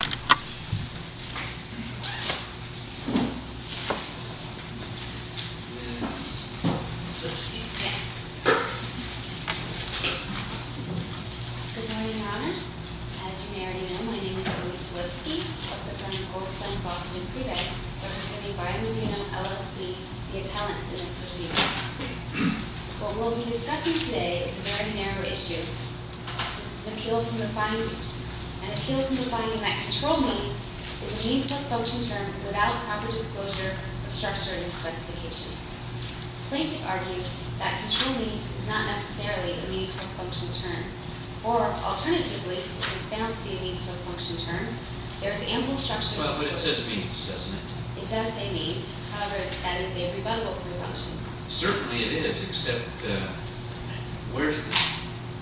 Good morning honors. As you may already know, my name is Elisa Lipsky. I work with my friend Goldstein-Faustin in Prevec, representing Biomedino LLC, the appellant to this proceeding. What we'll be discussing today is a very narrow issue. This is an appeal from defining X, and the term means is a means plus function term without proper disclosure of structure and specification. Plaintiff argues that control means is not necessarily a means plus function term, or alternatively, it is found to be a means plus function term. There is ample structure in the structure. It does say means, however that is a rebuttable presumption. Certainly it is, except where is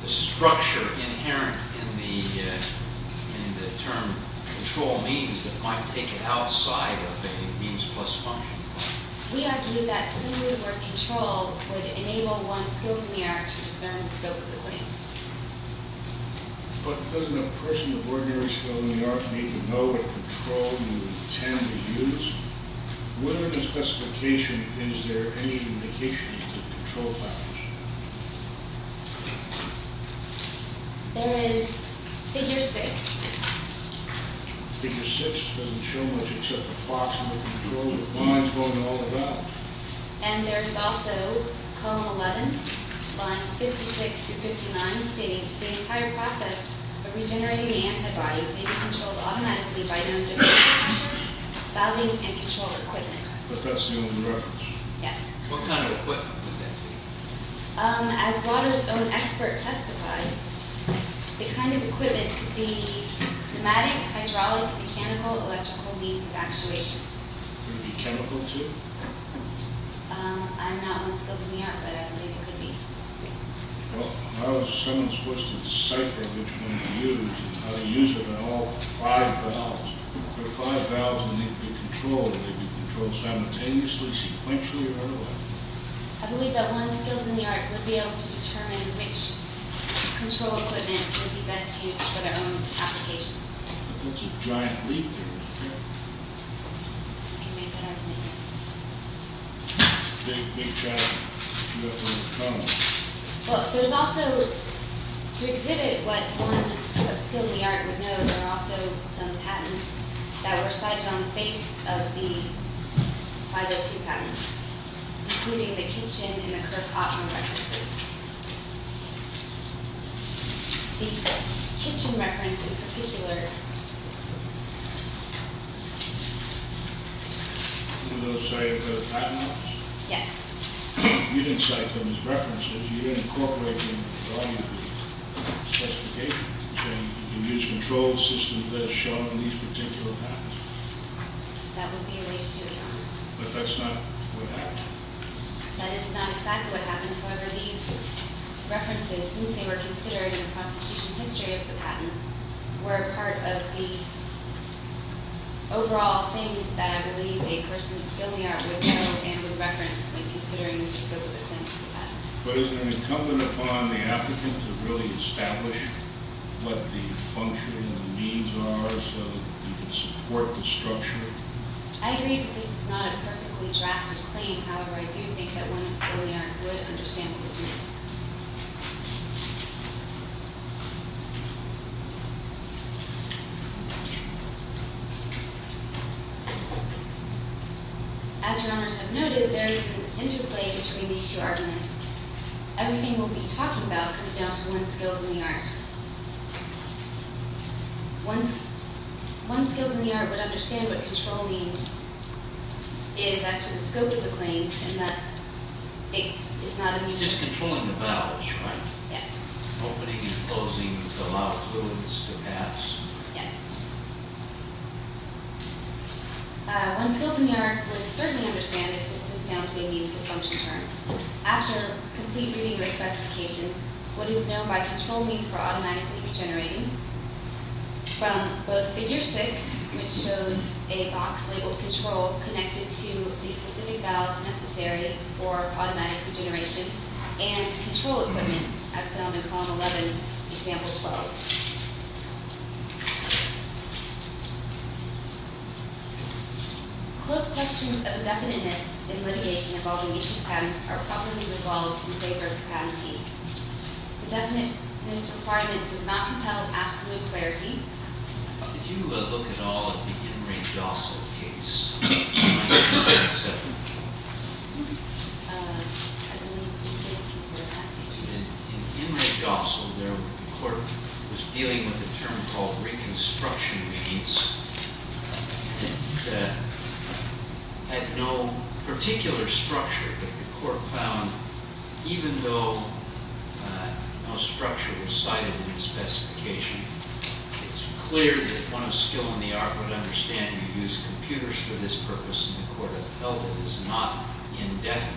the structure inherent in the term control means that might take it outside of a means plus function term? We argue that simply the word control would enable one's skills in the art to discern the scope of the claims. But doesn't a person of ordinary skill in the art need to know what control you intend to use? Whatever the specification, is there any indication of control factors? There is figure six. Figure six doesn't show much except a box with the control lines going all the way up. And there is also column 11, lines 56 through 59, stating the entire process of regenerating the antibody may be controlled automatically by their own different equipment. What kind of equipment would that be? As Waters' own expert testified, the kind of equipment could be pneumatic, hydraulic, mechanical, electrical means of actuation. Would it be chemical too? I'm not one skills in the art, but I believe it could be. Well, how is someone supposed to decipher which one to use and how to use it in all five valves? If there are five valves and they could be controlled, would they be controlled simultaneously, sequentially, or otherwise? I believe that one skills in the art would be able to determine which control equipment would be best used for their own application. There's a bunch of giant leaves in here. You can make it out of leaves. Big, big, giant. Well, there's also, to exhibit what one of skills in the art would know, there are also some patents that were cited on the face of the 502 patent, including the kitchen and Was those cited by the Patent Office? Yes. You didn't cite them as references. You didn't incorporate them into the specification. You used controlled systems as shown in these particular patents. That would be a way to do it, Your Honor. But that's not what happened. That is not exactly what happened. However, these references, since they were considered in the prosecution history of the overall thing that I believe a person with skills in the art would know and would reference when considering the scope of the claims of the patent. But is it incumbent upon the applicant to really establish what the function and the means are so that they can support the structure? I agree that this is not a perfectly drafted claim. However, I do think that one with skills in the art would understand what was meant. As Your Honors have noted, there is an interplay between these two arguments. Everything we'll be talking about comes down to one's skills in the art. One's skills in the art would understand what control means is as to the scope of the claims unless it is not a means. It's just controlling the valves, right? Yes. Opening and closing to allow fluids to pass. Yes. One's skills in the art would certainly understand if this is found to be a means dysfunction term. After complete reading the specification, what is known by control means for automatically regenerating from both figure six, which shows a box labeled control connected to the specific valves necessary for automatic regeneration, and control equipment as found in column 11, example 12. Close questions of definiteness in litigation involving issue patents are probably resolved in favor of the patentee. The definiteness requirement does not compel absolute clarity. Did you look at all of the Imre Gossel case? In Imre Gossel, the court was dealing with a term called reconstruction means that had no particular structure, but the court found even though no structure was cited in the case, it's clear that one of skill in the art would understand you use computers for this purpose, and the court has held it is not indefinite.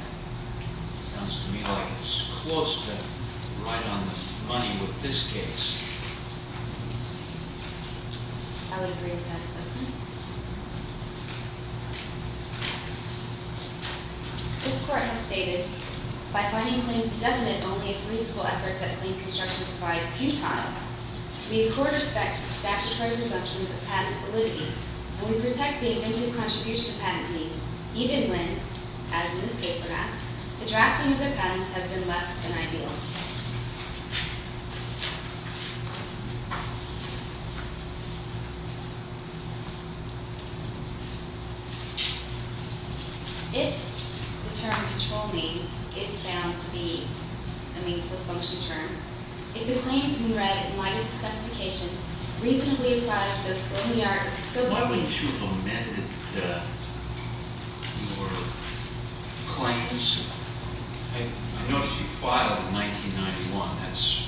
It sounds to me like it's close to right on the money with this case. I would agree with that assessment. This court has stated, by finding claims indefinite only if reasonable efforts at clean construction provide futile, we in court respect statutory presumption of patent validity, and we protect the inventive contribution of patentees even when, as in this case perhaps, the drafting of their patents has been less than ideal. If the term control means is found to be a meansless function term, if the claims we read in light of the specification reasonably applies to the skill in the art- Why wouldn't you have amended your claims? I noticed you filed in 1991. That's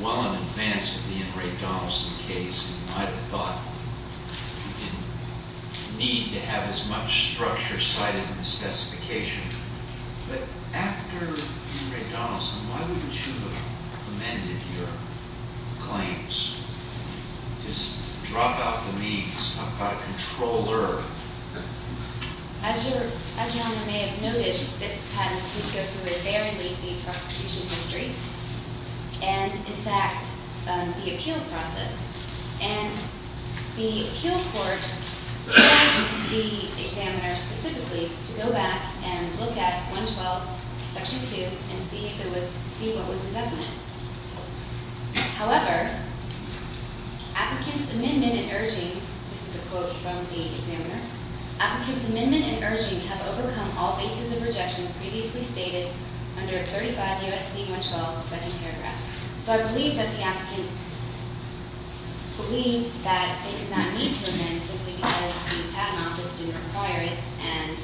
well in advance of the Imre Donaldson case, and I thought you didn't need to have as much structure cited in the specification. But after Imre Donaldson, why wouldn't you have amended your claims? Just drop out the means. I'm not a controller. As Your Honor may have noted, this patent did go through a very lengthy prosecution history, and in fact, the appeals process, and the appeal court asked the examiner specifically to go back and look at 112, section 2, and see what was indefinite. However, applicants' amendment and urging- this is a quote from the examiner- applicants' amendment and urging have overcome all bases of rejection previously stated under 35 U.S.C. 112, second paragraph. So I believe that the applicant believed that they did not need to amend simply because the patent office didn't require it, and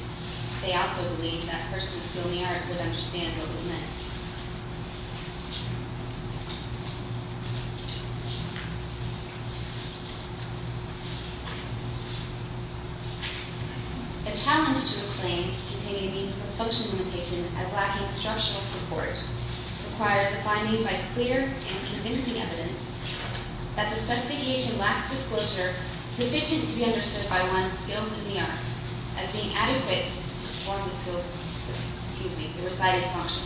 they also believed that a person of skill in the art would understand what was meant. A challenge to a claim containing a means-plus-function limitation as lacking structural support requires a finding by clear and convincing evidence that the specification lacks disclosure sufficient to be understood by one skilled in the art as being adequate to perform the skill- excuse me, the recited function.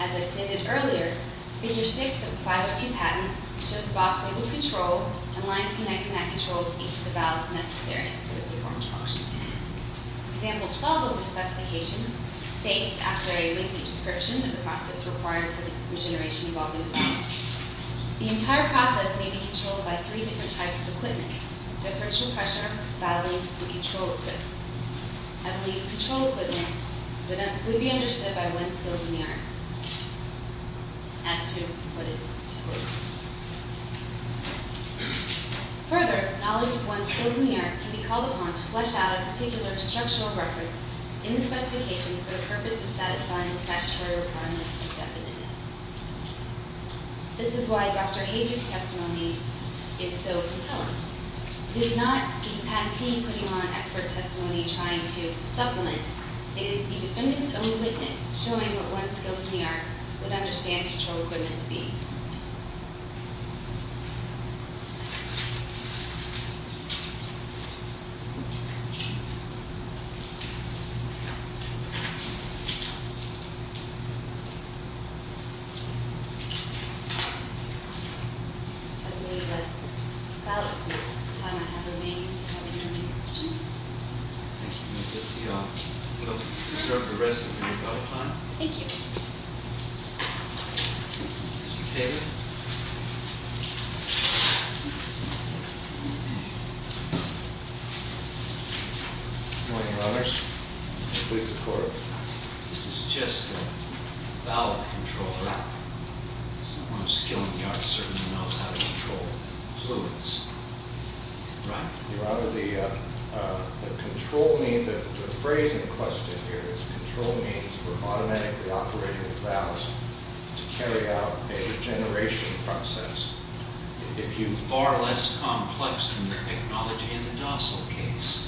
As I stated earlier, figure 6 of 502 patent shows the box labeled control and lines connecting that control to each of the valves necessary for the performed function. Example 12 of the specification states, after a lengthy description of the process required for the regeneration of all new valves, the entire process may be controlled by three different types of equipment- differential pressure, valving, and control equipment. I believe control equipment would be understood by one skilled in the art as to what it discloses. Further, knowledge of one's skills in the art can be called upon to flesh out a particular structural reference in the specification for the purpose of satisfying the statutory requirement of definiteness. This is why Dr. Hage's testimony is so compelling. It is not the patentee putting on expert testimony trying to supplement. It is the defendant's own witness showing what one's skills in the art would understand control equipment to be. I believe that's about the time I have remaining to have any questions. Thank you, Ms. Dixie. I'll reserve the rest of your ballot time. Thank you. Mr. Kagan. Good morning, Your Honors. This is just a valve controller. Someone of skill in the art certainly knows how to control fluids. Right. Your Honor, the control mean, the phrase in question here is control means for automatically operating valves to carry out a regeneration process. If you are far less complex in your technology in the Dossal case.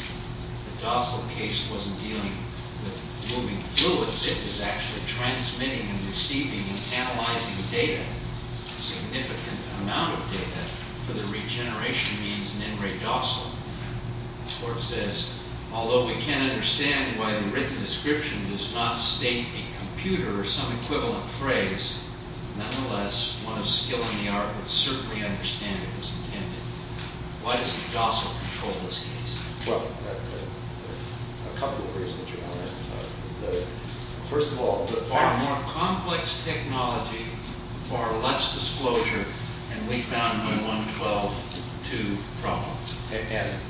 The Dossal case wasn't dealing with moving fluids. It was actually transmitting and receiving and analyzing data, significant amount of data for the regeneration means in NRE Dossal. The court says, although we can't understand why the written description does not state a computer or some equivalent phrase, nonetheless, one of skill in the art would certainly understand it was intended. Why doesn't Dossal control this case? Well, a couple of reasons, Your Honor. First of all, the. Far more complex technology, far less disclosure, and we found no 112-2 problem. And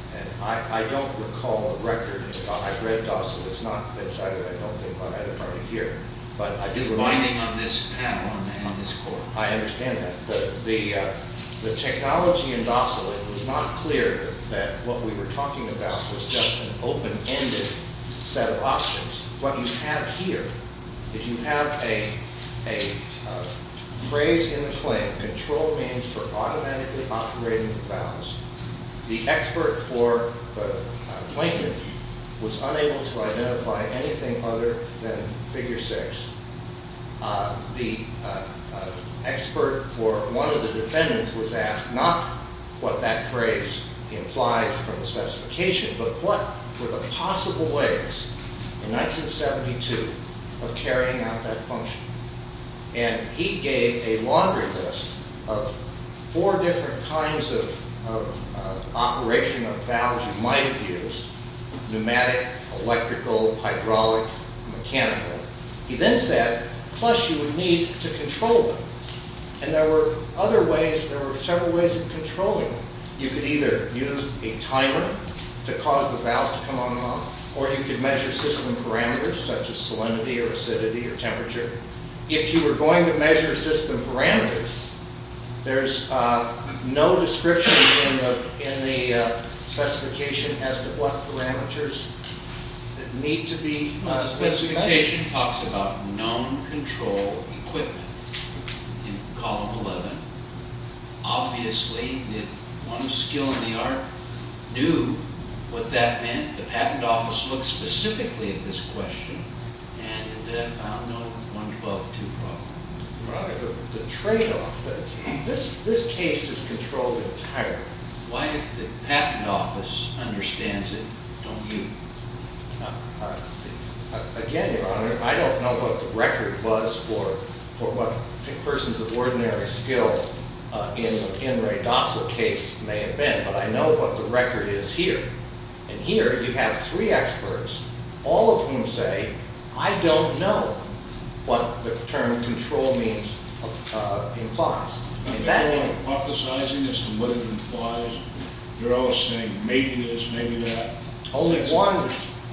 I don't recall the record. I've read Dossal. It's not. It's either. I don't think I have it here. It's binding on this panel, on this court. I understand that. The technology in Dossal, it was not clear that what we were talking about was just an open-ended set of options. What you have here, if you have a phrase in the claim, control means for automatically operating the valves. The expert for the plaintiff was unable to identify anything other than figure six. The expert for one of the defendants was asked not what that phrase implies from the specification, but what were the possible ways in 1972 of carrying out that function. And he gave a laundry list of four different kinds of operation of valves you might have used. Pneumatic, electrical, hydraulic, mechanical. He then said, plus you would need to control them. And there were other ways. There were several ways of controlling them. You could either use a timer to cause the valves to come on and off, or you could measure system parameters such as salinity or acidity or temperature. If you were going to measure system parameters, there's no description in the specification as to what parameters need to be specified. The specification talks about known control equipment in column 11. Obviously, one skill in the art knew what that meant. And the patent office looked specifically at this question and found no 112 problem. The tradeoff, this case is controlled entirely. Why if the patent office understands it, don't you? Again, Your Honor, I don't know what the record was for what persons of ordinary skill in Ray Dossal's case may have been, but I know what the record is here. And here you have three experts, all of whom say, I don't know what the term control means implies. You're all hypothesizing as to what it implies. You're all saying maybe this, maybe that. Only one.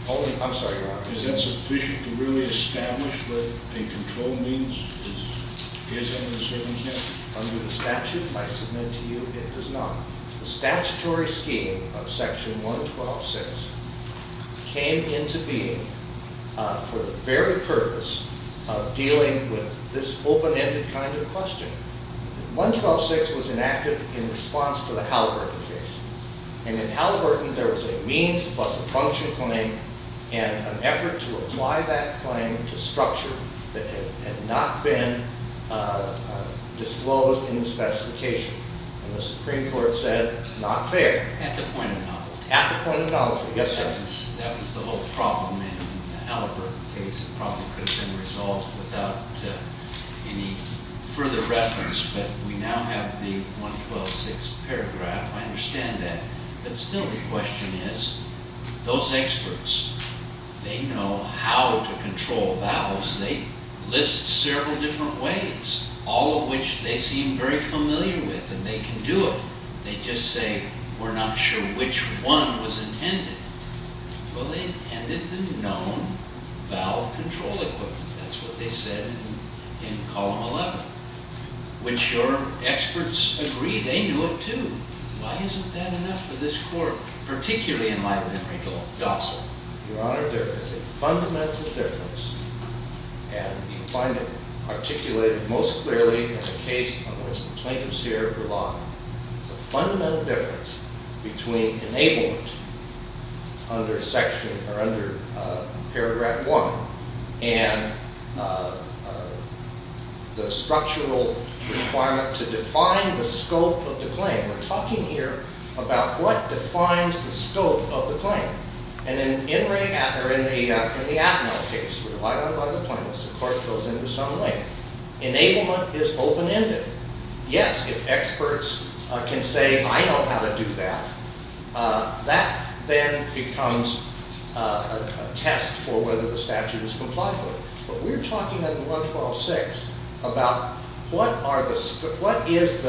I'm sorry, Your Honor. Is that sufficient to really establish that a control means is under the circumstances? Under the statute, I submit to you, it does not. The statutory scheme of Section 112.6 came into being for the very purpose of dealing with this open-ended kind of question. 112.6 was enacted in response to the Halliburton case. And in Halliburton, there was a means plus a function claim and an effort to apply that claim to structure that had not been disclosed in the specification. And the Supreme Court said, not fair. At the point of knowledge. At the point of knowledge. Yes, sir. That was the whole problem in the Halliburton case. It probably could have been resolved without any further reference. But we now have the 112.6 paragraph. I understand that. But still the question is, those experts, they know how to control vows. They list several different ways, all of which they seem very familiar with. And they can do it. They just say, we're not sure which one was intended. Well, they intended the known vow control equipment. That's what they said in Column 11. Which your experts agree, they knew it too. Why isn't that enough for this Court, particularly in my memory, to gossip? Your Honor, there is a fundamental difference. And you find it articulated most clearly in the case on which the plaintiffs here rely. There's a fundamental difference between enablement under paragraph one and the structural requirement to define the scope of the claim. We're talking here about what defines the scope of the claim. And in the Atmel case, we rely on it by the plaintiffs. The Court goes into some length. Enablement is open-ended. Yes, if experts can say, I know how to do that, that then becomes a test for whether the statute is compliant with it. But we're talking under 112.6 about what is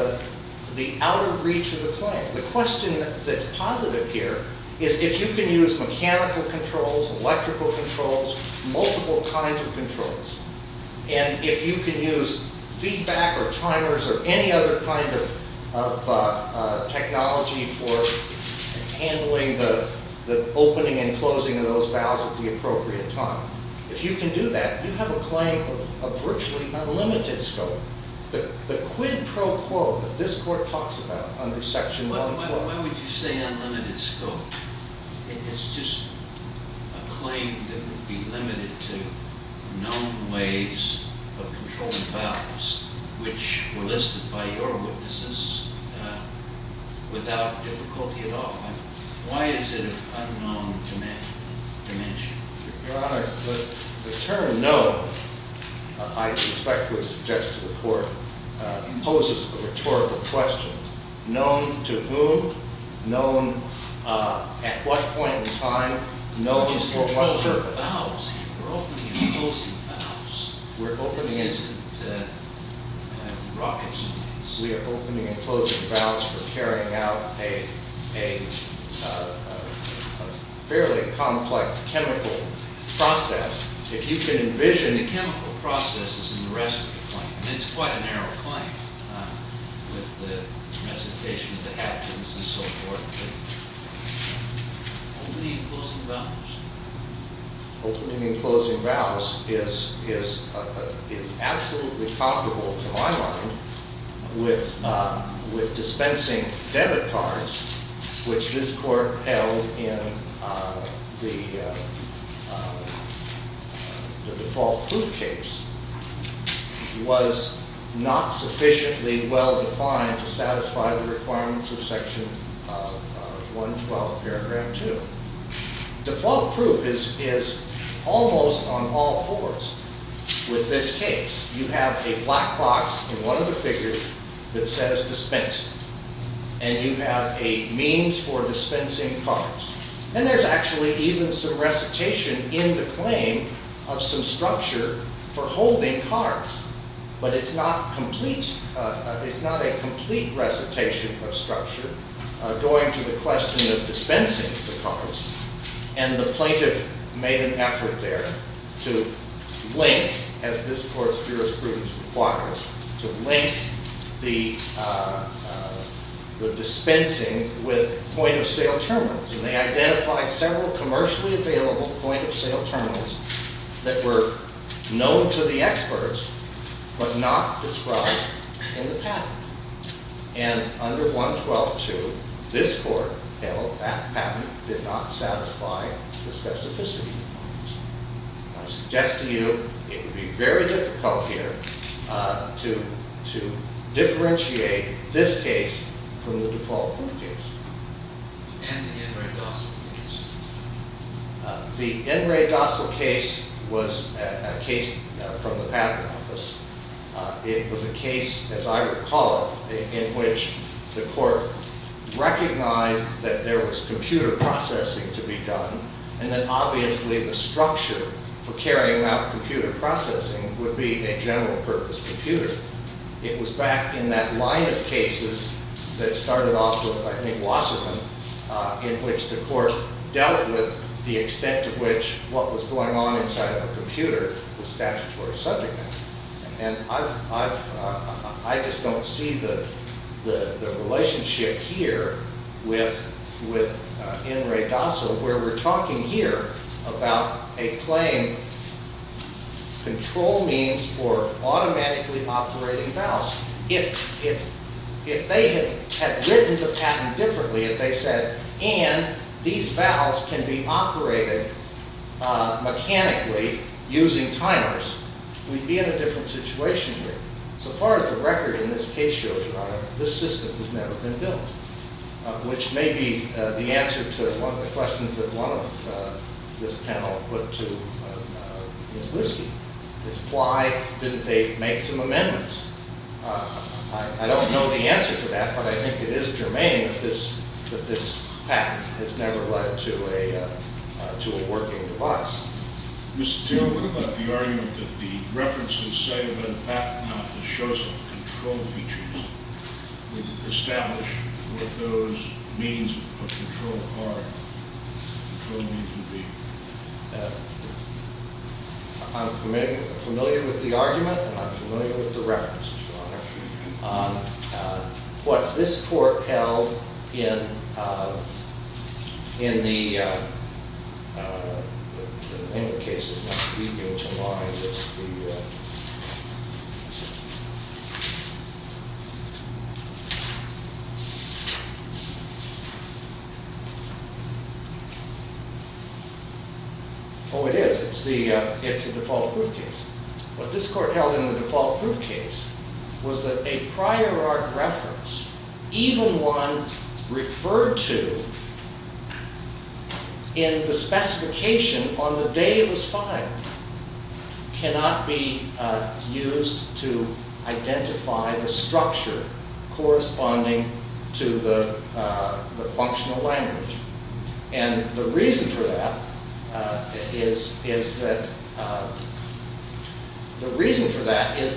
the outer reach of the claim. The question that's positive here is if you can use mechanical controls, electrical controls, multiple kinds of controls, and if you can use feedback or timers or any other kind of technology for handling the opening and closing of those vows at the appropriate time. If you can do that, you have a claim of virtually unlimited scope. The quid pro quo that this Court talks about under section 112. Why would you say unlimited scope? It's just a claim that would be limited to known ways of controlling vows, which were listed by your witnesses without difficulty at all. Why is it of unknown dimension? Your Honor, the term known, I suspect it was suggested to the Court, poses a rhetorical question. Known to whom? Known at what point in time? Known for what purpose? We're opening and closing vows. We're opening and closing vows for carrying out a fairly complex chemical process. If you can envision... The chemical process is in the rest of the claim, and it's quite a narrow claim with the recitation of the captains and so forth. Opening and closing vows. Opening and closing vows is absolutely comparable to my mind with dispensing debit cards, which this Court held in the default proof case, was not sufficiently well defined to satisfy the requirements of section 112, paragraph 2. Default proof is almost on all fours with this case. You have a black box in one of the figures that says dispense, and you have a means for dispensing cards. And there's actually even some recitation in the claim of some structure for holding cards, but it's not a complete recitation of structure And the plaintiff made an effort there to link, as this Court's jurisprudence requires, to link the dispensing with point-of-sale terminals. And they identified several commercially available point-of-sale terminals that were known to the experts but not described in the patent. And under 112.2, this Court held that patent did not satisfy the specificity requirements. I suggest to you, it would be very difficult here to differentiate this case from the default proof case. And the N. Ray Dossal case. The N. Ray Dossal case was a case from the patent office. It was a case, as I recall, in which the Court recognized that there was computer processing to be done, and that obviously the structure for carrying out computer processing would be a general-purpose computer. It was back in that line of cases that started off with, I think, Wasserman, in which the Court dealt with the extent of which what was going on inside of a computer was statutory subject matter. And I just don't see the relationship here with N. Ray Dossal, where we're talking here about a plain control means for automatically operating valves. If they had written the patent differently, if they said, and these valves can be operated mechanically using timers, we'd be in a different situation here. So far as the record in this case shows about it, this system has never been built. Which may be the answer to one of the questions that one of this panel put to Ms. Lewski, is why didn't they make some amendments? I don't know the answer to that, but I think it is germane that this patent has never led to a working device. Mr. Taylor, what about the argument that the references say that a patent has to show some control features to establish what those means of control are, control means would be? I'm familiar with the argument, and I'm familiar with the references, Your Honor. What this court held in the... Oh, it is. It's the default proof case. What this court held in the default proof case was that a prior art reference, even one referred to in the specification on the day it was filed, cannot be used to identify the structure corresponding to the functional language. And the reason for that is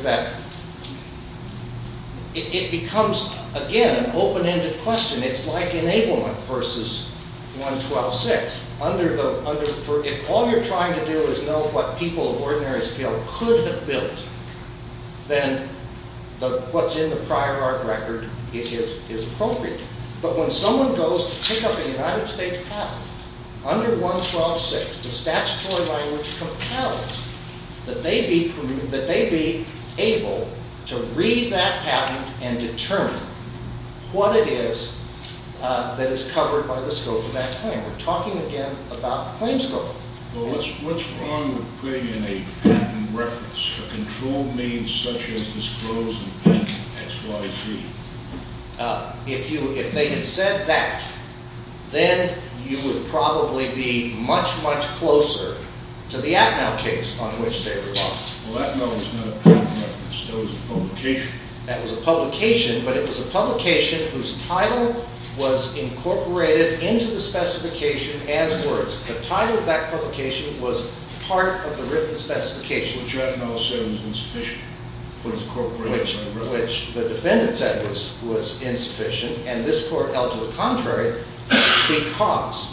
that it becomes, again, an open-ended question. It's like enablement versus 112.6. If all you're trying to do is know what people of ordinary skill could have built, then what's in the prior art record is appropriate. But when someone goes to pick up a United States patent under 112.6, the statutory language compels that they be able to read that patent and determine what it is that is covered by the scope of that claim. We're talking, again, about the claim scope. Well, what's wrong with putting in a patent reference for control means If they had said that, then you would probably be much, much closer to the Atmel case on which they relied. Well, Atmel was not a patent reference. That was a publication. That was a publication, but it was a publication whose title was incorporated into the specification as words. The title of that publication was part of the written specification. Which Atmel said was insufficient. Which the defendant said was insufficient, and this court held to the contrary because,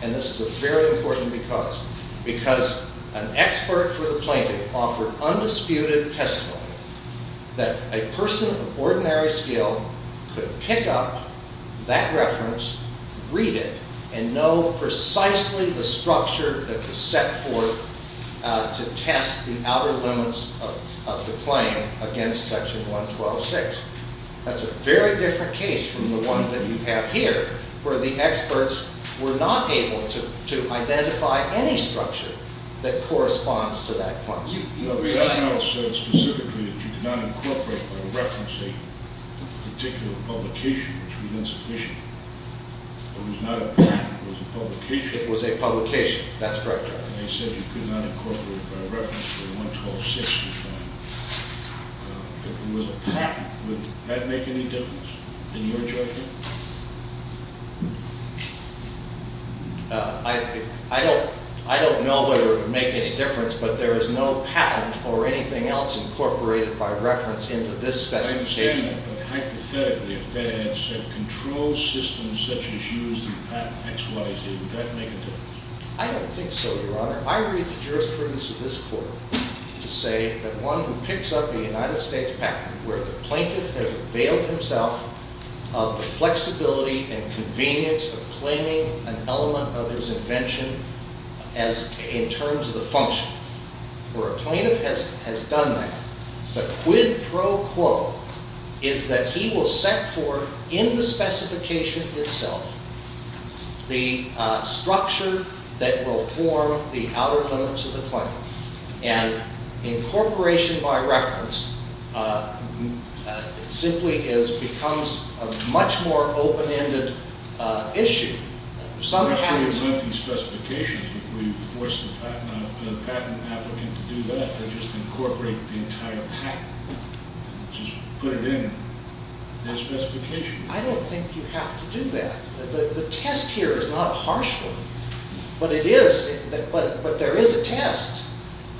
and this is a very important because, because an expert for the plaintiff offered undisputed testimony that a person of ordinary skill could pick up that reference, read it, and know precisely the structure that was set forth to test the outer limits of the claim against Section 112.6. That's a very different case from the one that you have here where the experts were not able to identify any structure that corresponds to that claim. No, Atmel said specifically that you could not incorporate or reference a particular publication which was insufficient. It was not a patent. It was a publication. It was a publication. That's correct, Your Honor. And he said you could not incorporate by reference to 112.6. If it was a patent, would that make any difference in your judgment? I don't know whether it would make any difference, but there is no patent or anything else incorporated by reference into this specification. I understand that, but hypothetically if that had said controlled systems such as used in patent X, Y, Z, would that make a difference? I don't think so, Your Honor. I read the jurisprudence of this court to say that one who picks up the United States patent where the plaintiff has availed himself of the flexibility and convenience of claiming an element of his invention in terms of the function, where a plaintiff has done that, the quid pro quo is that he will set forth in the specification itself the structure that will form the outer limits of the claim. And incorporation by reference simply becomes a much more open-ended issue. Some patents... I'm not sure we want these specifications if we force the patent applicant to do that, to just incorporate the entire patent. Just put it in the specification. I don't think you have to do that. The test here is not a harsh one, but there is a test.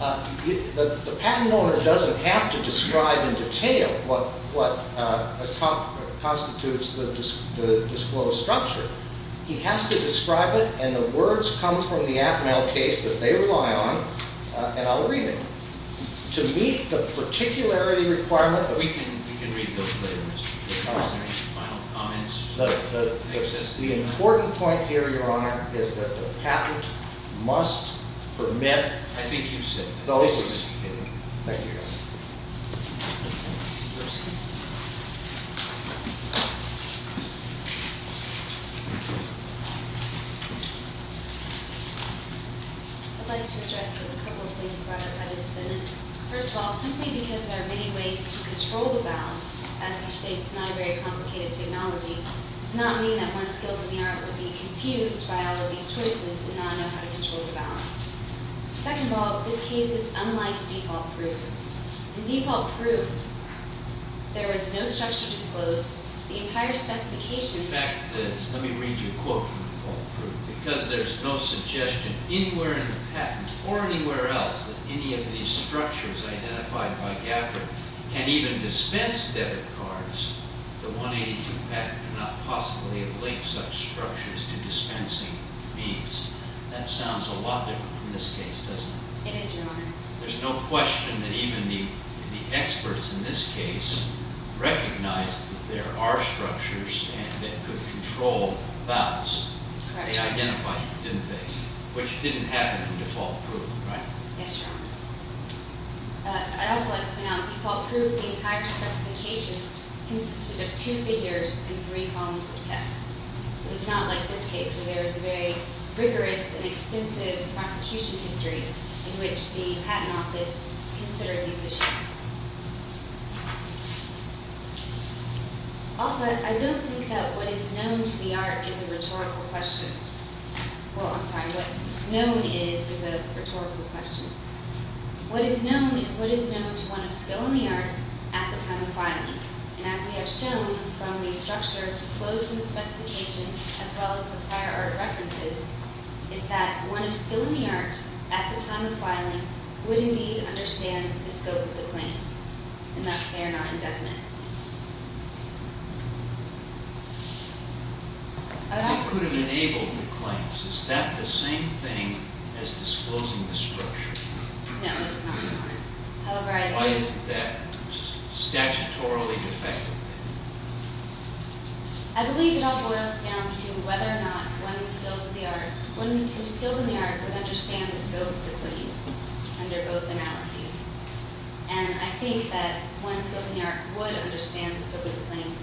The patent owner doesn't have to describe in detail what constitutes the disclosed structure. He has to describe it, and the words come from the Atmel case that they rely on, and I'll read them. To meet the particularity requirement... We can read those later in the presentation. Final comments? The important point here, Your Honor, is that the patent must permit... I think you've said that. Thank you, Your Honor. I'd like to address a couple of things by the defendants. First of all, simply because there are many ways to control the balance, as you say, it's not a very complicated technology, does not mean that one's skills in the art will be confused by all of these choices and not know how to control the balance. Second of all, this case is unlike default proof. In default proof, there is no structure disclosed. The entire specification... In fact, let me read you a quote from default proof. Because there's no suggestion anywhere in the patent or anywhere else that any of these structures identified by Gaffer can even dispense debit cards, the 182 patent cannot possibly link such structures to dispensing fees. That sounds a lot different from this case, doesn't it? It is, Your Honor. There's no question that even the experts in this case recognize that there are structures that could control balance. Correct. They identified it, didn't they? Which didn't happen in default proof, right? Yes, Your Honor. I'd also like to point out, default proof, the entire specification, consisted of two figures and three columns of text. It is not like this case, where there is a very rigorous and extensive prosecution history in which the patent office considered these issues. Also, I don't think that what is known to the art is a rhetorical question. Well, I'm sorry. What is known is a rhetorical question. What is known is what is known to one of skill in the art at the time of filing. And as we have shown from the structure disclosed in the specification, as well as the prior art references, is that one of skill in the art at the time of filing would indeed understand the scope of the claims. And thus, they are not indefinite. They could have enabled the claims. Is that the same thing as disclosing the structure? No, it is not, Your Honor. Why isn't that statutorily effective? I believe it all boils down to whether or not one of skill in the art would understand the scope of the claims under both analyses. And I think that one of skill in the art would understand the scope of the claims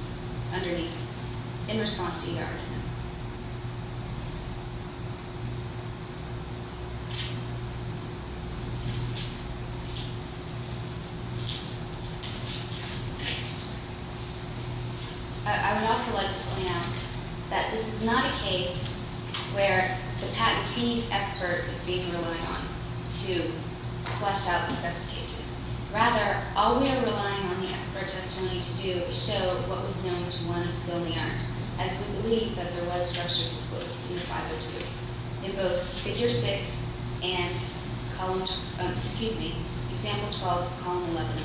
in response to either argument. I would also like to point out that this is not a case where the patentee's expert is being relied on to flesh out the specification. Rather, all we are relying on the expert testimony to do is show what was known to one of skill in the art, as we believe that there was structure disclosed in 502, in both Figure 6 and Example 12, Column 11.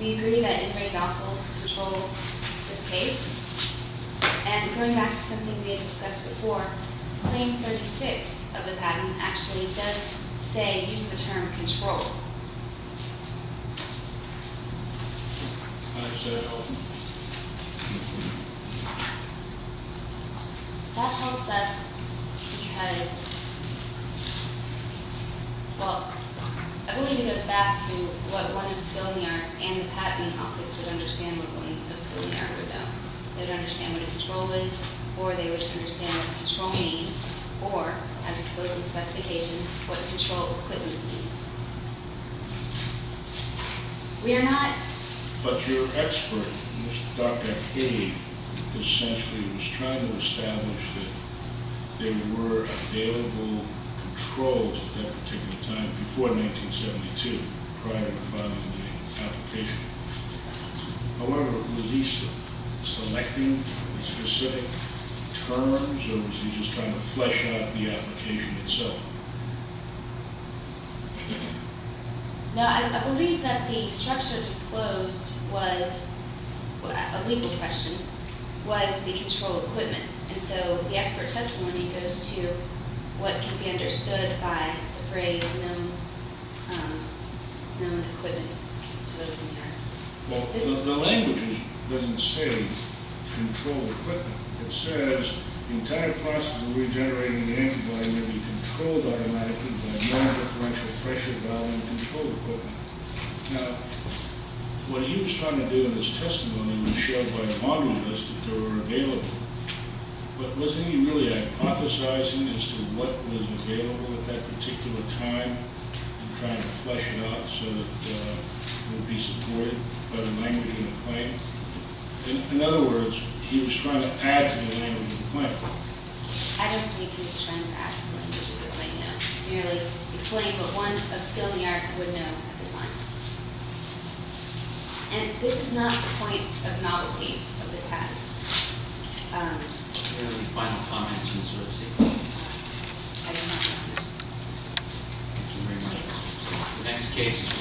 We agree that Ingray Dossal controls this case. And going back to something we had discussed before, Claim 36 of the patent actually does say, use the term, control. That helps us because... Well, I believe it goes back to what one of skill in the art and the patent office would understand what one of skill in the art would know. They would understand what a control is, or they would understand what a control means, or, as disclosed in the specification, what control equipment means. We are not... But your expert, Dr. Cady, essentially was trying to establish that there were available controls at that particular time, before 1972, prior to filing the application. However, was he selecting the specific terms, or was he just trying to flesh out the application itself? No, I believe that the structure disclosed was, a legal question, was the control equipment. And so the expert testimony goes to what can be understood by the phrase, known equipment. Well, the language doesn't say control equipment. It says, the entire process of regenerating the antibody may be controlled automatically by non-differential pressure valve control equipment. Now, what he was trying to do in his testimony was show by a monolith that there were available. But was he really hypothesizing as to what was available at that particular time, and trying to flesh it out so that it would be supported by the language of the claim? In other words, he was trying to add to the language of the claim. I don't believe he was trying to add to the language of the claim, no. Merely explain what one of skill in the art would know at the time. And this is not the point of novelty of this patent. Any final comments? I do not have this. Thank you very much.